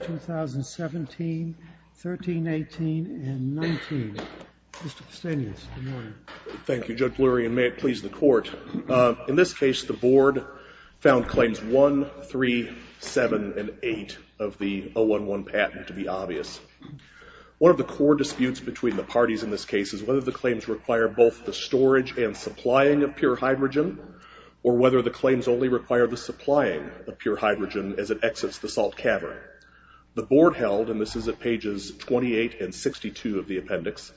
2017, 13, 18, and 19. Mr. Pustanius, good morning. Thank you, Judge Lurie, and may it please the Court. In this case, the Board found Claims 1, 3, 7, and 8 of the 011 patent to be obvious. One of the core disputes between the parties in this case is whether the claims require both the storage and supplying of pure hydrogen, or whether the claims only require the supplying of pure hydrogen as it exits the salt cavern. The Board held, and this is at pages 28 and 62 of the appendix,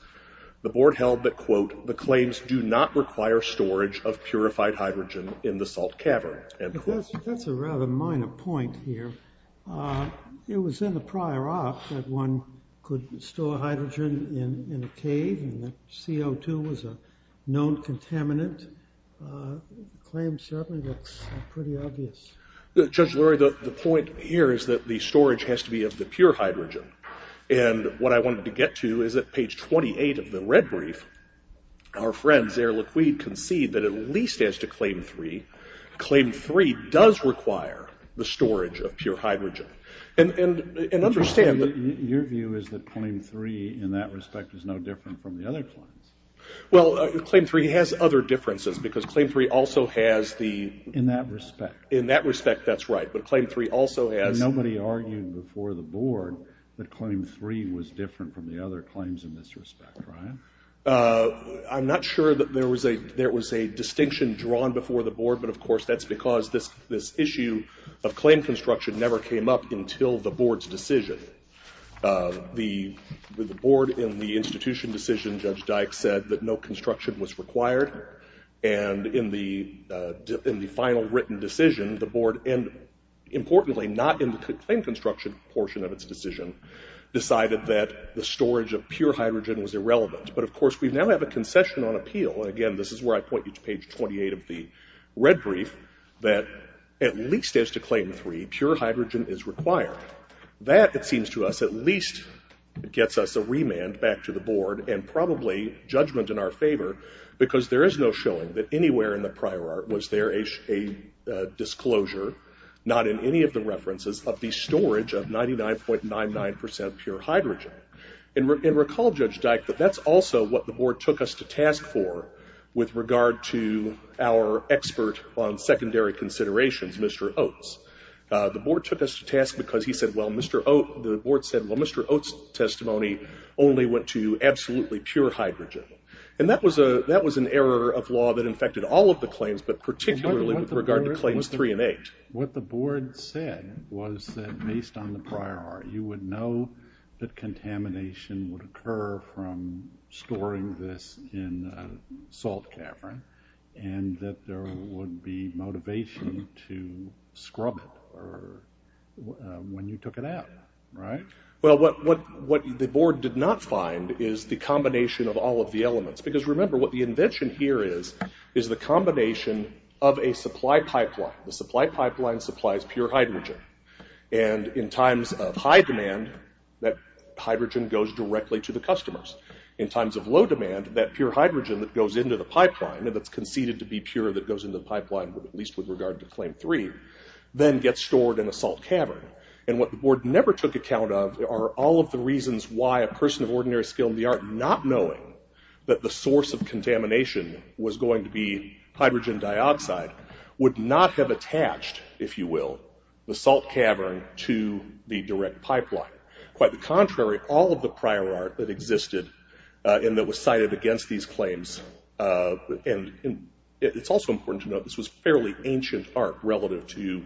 the Board held that, quote, the claims do not require storage of purified hydrogen in the salt cavern. But that's a rather minor point here. It was in the prior op that one could store hydrogen in a cave, and that CO2 was a known contaminant. Claim 7 looks pretty obvious. Judge Lurie, the point here is that the storage has to be of the pure hydrogen. And what I wanted to get to is that, page 28 of the red brief, our friends Air Liquide concede that at least as to Claim 3, Claim 3 does require the storage of pure hydrogen. And understand that Your view is that Claim 3, in that respect, is no different from the other claims? Well, Claim 3 has other differences, because Claim 3 also has the In that respect. In that respect, that's right. But Claim 3 also has Nobody argued before the Board that Claim 3 was different from the other claims in this respect, right? I'm not sure that there was a distinction drawn before the Board, but of course, that's because this issue of claim construction never came up until the Board's decision. The Board, in the institution decision, Judge Dyck said that no construction was required. And in the final written decision, the Board, and importantly, not in the claim construction portion of its decision, decided that the storage of pure hydrogen was irrelevant. But of course, we now have a concession on appeal. And again, this is where I point you to page 28 of the red brief, that at least as to Claim 3, pure hydrogen is required. That, it seems to us, at least gets us a remand back to the Board and probably judgment in our favor, because there is no showing that anywhere in the prior art was there a disclosure, not in any of the references, of the storage of 99.99% pure hydrogen. And recall, Judge Dyck, that that's also what the Board took us to task for with regard to our expert on secondary considerations, Mr. Oates. The Board took us to task because he said, well, Mr. Oates, the Board said, well, Mr. Oates testimony only went to absolutely pure hydrogen. And that was an error of law that infected all of the elements, because based on the prior art, you would know that contamination would occur from storing this in a salt cavern, and that there would be motivation to scrub it when you took it out, right? Well, what the Board did not find is the combination of all of the elements. Because remember, what the invention here is, is the combination of a supply pipeline. The supply pipeline supplies pure hydrogen. And in times of high demand, that hydrogen goes directly to the customers. In times of low demand, that pure hydrogen that goes into the pipeline, and that's conceded to be pure that goes into the pipeline, at least with regard to Claim 3, then gets stored in a salt cavern. And what the Board never took account of are all of the reasons why a person of ordinary skill in the art, not knowing that the source of contamination was going to be hydrogen dioxide, would not have attached, if you will, the salt cavern to the direct pipeline. Quite the contrary, all of the prior art that existed, and that was cited against these claims, and it's also important to note this was fairly ancient art relative to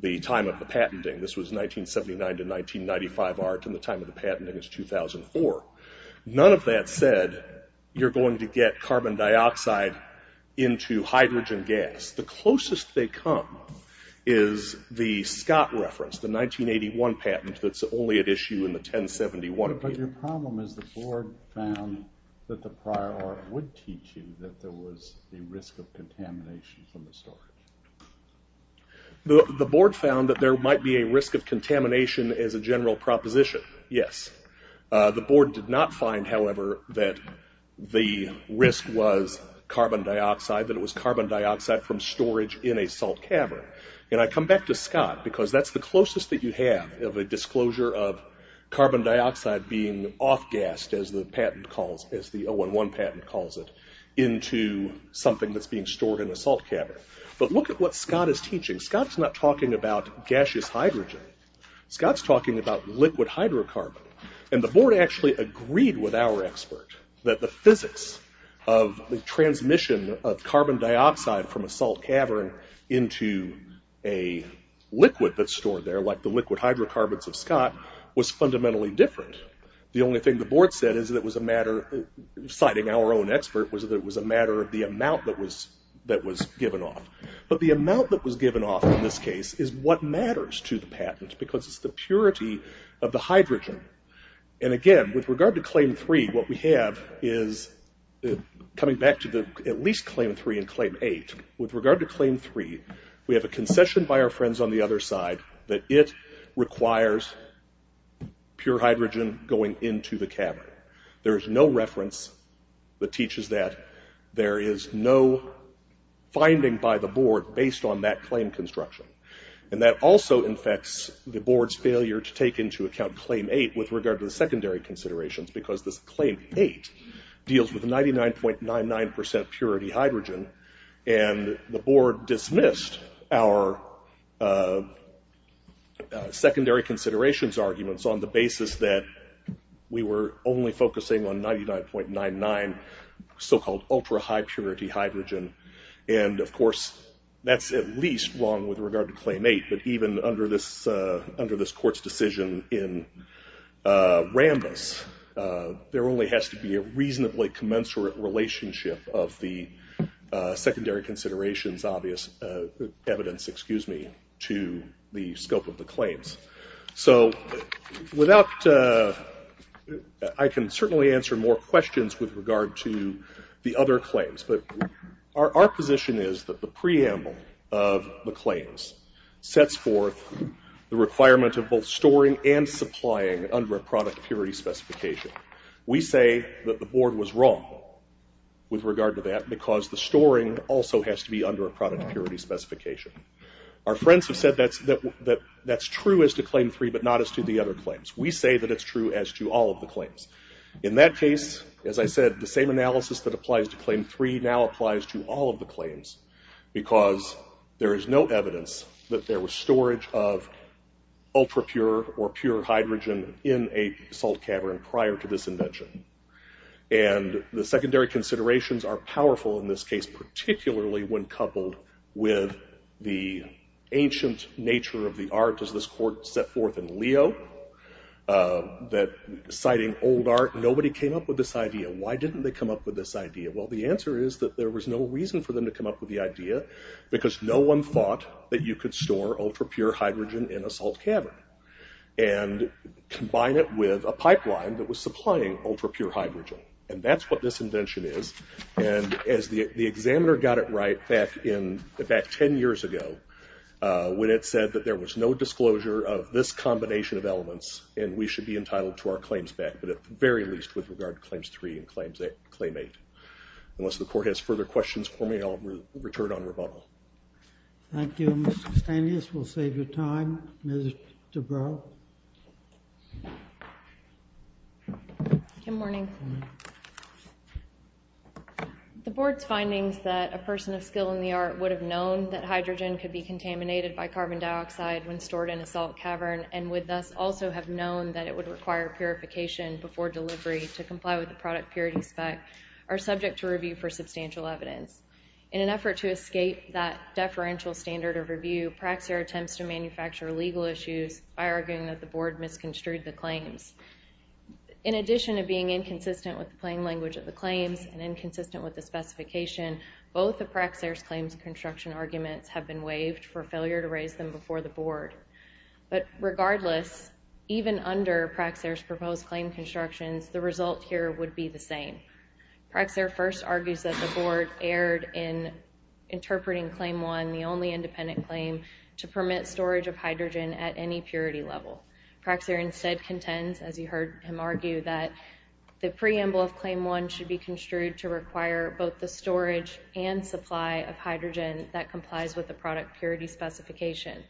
the time of the patenting. This was 1979 to 1995 art, and the time of the patenting is 2004. None of that said, you're going to get hydrogen gas. The closest they come is the Scott reference, the 1981 patent that's only at issue in the 1071. But your problem is the Board found that the prior art would teach you that there was a risk of contamination from the storage. The Board found that there might be a risk of contamination as a general proposition. Yes. The Board did not find, however, that the risk was carbon dioxide, that it was carbon dioxide from storage in a salt cavern. And I come back to Scott, because that's the closest that you have of a disclosure of carbon dioxide being off-gassed, as the patent calls it, as the 011 patent calls it, into something that's being stored in a salt cavern. But look at what Scott is teaching. Scott's not talking about gaseous hydrogen. Scott's talking about liquid hydrocarbon. And the Board actually agreed with our expert that the physics of the transmission of carbon dioxide from a salt cavern into a liquid that's stored there, like the liquid hydrocarbons of Scott, was fundamentally different. The only thing the Board said is that it was a matter, citing our own expert, was that it was a But the amount that was given off in this case is what matters to the patent, because it's the purity of the hydrogen. And again, with regard to Claim 3, what we have is, coming back to at least Claim 3 and Claim 8, with regard to Claim 3, we have a concession by our friends on the other side that it requires pure hydrogen going into the cavern. There is no reference that teaches that. There is no finding by the Board based on that claim construction. And that also infects the Board's failure to take into account Claim 8 with regard to the secondary considerations, because this Claim 8 deals with 99.99% purity hydrogen. And the Board dismissed our secondary considerations arguments on the basis that we were only focusing on 99.99% so-called ultra-high purity hydrogen. And of course, that's at least wrong with regard to Claim 8. But even under this Court's decision in Rambis, there only has to be a reasonably commensurate relationship of the secondary considerations evidence to the scope of the claims. So I can certainly answer more questions with regard to the other claims, but our position is that the preamble of the claims sets forth the requirement of both storing and supplying under a product purity specification. We say that the Board was wrong with regard to that, because the storing also has to be under a product purity specification. Our friends have said that that's true as to Claim 3, but not as to the other claims. We say that it's true as to all of the claims. In that case, as I said, the same analysis that applies to Claim 3 now applies to all of the claims, because there is no evidence that there was storage of ultra-pure or pure hydrogen in a salt cavern prior to this invention. And the secondary considerations are powerful in this case, particularly when coupled with the ancient nature of the art as this Court set forth in Leo, citing old art. Nobody came up with this idea. Why didn't they come up with this idea? Well, the answer is that there was no reason for them to come up with the idea, because no one thought that you could store ultra-pure hydrogen in a salt cavern and combine it with a pipeline that was supplying ultra-pure hydrogen. And that's what this invention is. And as the examiner got it right back 10 years ago, when it said that there was no disclosure of this combination of elements, and we should be entitled to our claims back, but at the very least with regard to Claims 3 and Claim 8. Unless the Court has further questions for me, I'll return on rebuttal. Thank you, Mr. Stanius. We'll save you time. Good morning. The Board's findings that a person of skill in the art would have known that hydrogen could be contaminated by carbon dioxide when stored in a salt cavern, and would thus also have known that it would require purification before delivery to comply with the product purity spec, are subject to review for substantial evidence. In an effort to escape that deferential standard of review, Praxair attempts to manufacture legal issues by arguing that the Board misconstrued the claims. In addition to being inconsistent with the plain language of the claims and inconsistent with the specification, both of Praxair's claims construction arguments have been waived for failure to raise them before the Board. But regardless, even under Praxair's proposed claim constructions, the result here would be the same. Praxair first argues that the Board erred in interpreting Claim 1, the only independent claim, to permit storage of hydrogen at any purity level. Praxair instead contends, as you heard him argue, that the preamble of Claim 1 should be construed to require both the storage and supply of hydrogen that complies with the product purity specification.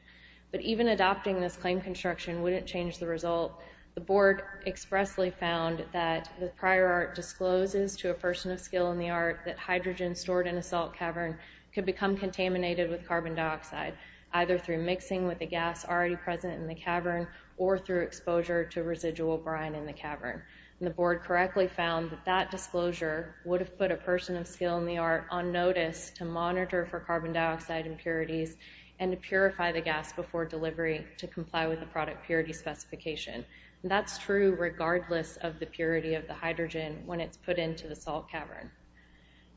But even adopting this claim construction wouldn't change the result. The Board expressly found that the prior art discloses to a person of skill in the art that hydrogen stored in a salt cavern could become contaminated with carbon dioxide, either through mixing with the gas already present in the cavern or through exposure to residual brine in the cavern. The Board correctly found that that disclosure would have put a person of skill in the art on notice to monitor for carbon dioxide impurities and to purify the gas before delivery to comply with the product purity specification. That's true regardless of the purity of the hydrogen when it's put into the salt cavern.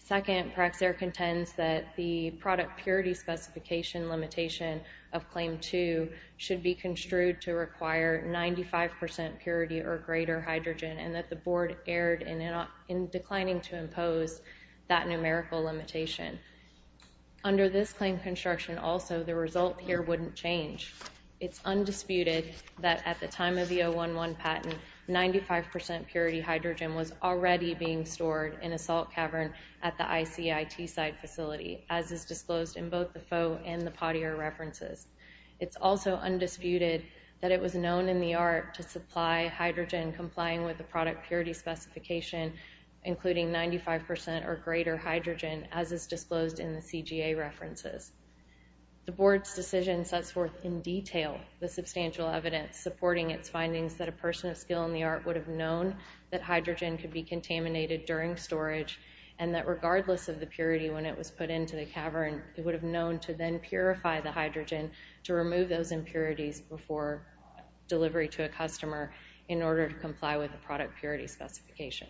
Second, Praxair contends that the product purity specification limitation of Claim 2 should be construed to require 95% purity or greater hydrogen and that the Board erred in declining to impose that numerical limitation. Under this claim construction also, the result here wouldn't change. It's undisputed that at the time of the 011 patent, 95% purity hydrogen was already being stored in a salt cavern at the ICIT site facility, as is disclosed in both the faux and the pottier references. It's also undisputed that it was known in the art to supply hydrogen complying with the 95% or greater hydrogen as is disclosed in the CGA references. The Board's decision sets forth in detail the substantial evidence supporting its findings that a person of skill in the art would have known that hydrogen could be contaminated during storage and that regardless of the purity when it was put into the cavern, it would have known to then purify the hydrogen to remove those impurities before delivery to a customer in order to comply with the product purity specification.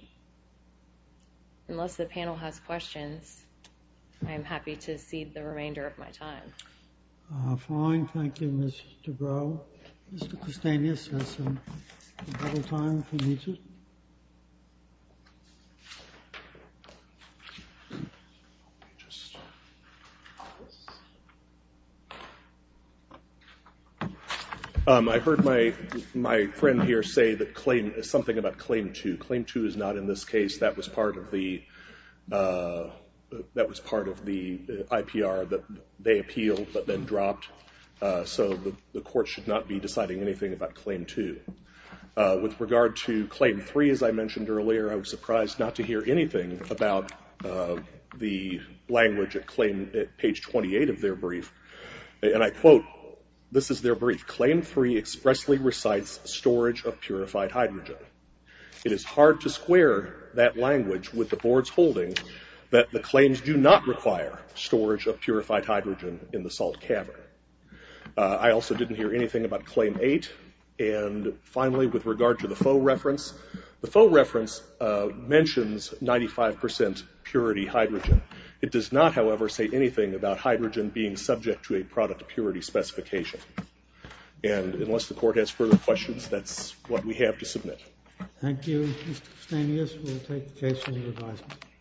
Unless the panel has questions, I'm happy to cede the remainder of my time. Fine. Thank you, Ms. Dubrow. Mr. Kostanius has some time if he needs it. I heard my friend here say that claim is something about claim two. Claim two is not in this case. That was part of the IPR that they appealed but then dropped, so the court should not be deciding anything about claim two. With regard to claim three, as I mentioned earlier, I was surprised not to hear anything about the language at page 28 of their brief. And I quote, this is their brief, claim three expressly recites storage of purified hydrogen. It is hard to square that language with the board's holdings that the claims do not require storage of purified hydrogen in the salt cavern. I also didn't hear anything about claim eight. And finally, with regard to the faux reference, the faux reference mentions 95% purity hydrogen. It does not, however, say anything about hydrogen being subject to a product purity specification. And unless the court has further questions, that's what we have to submit. Thank you, Mr. Kostanius. We'll take the case under advisement.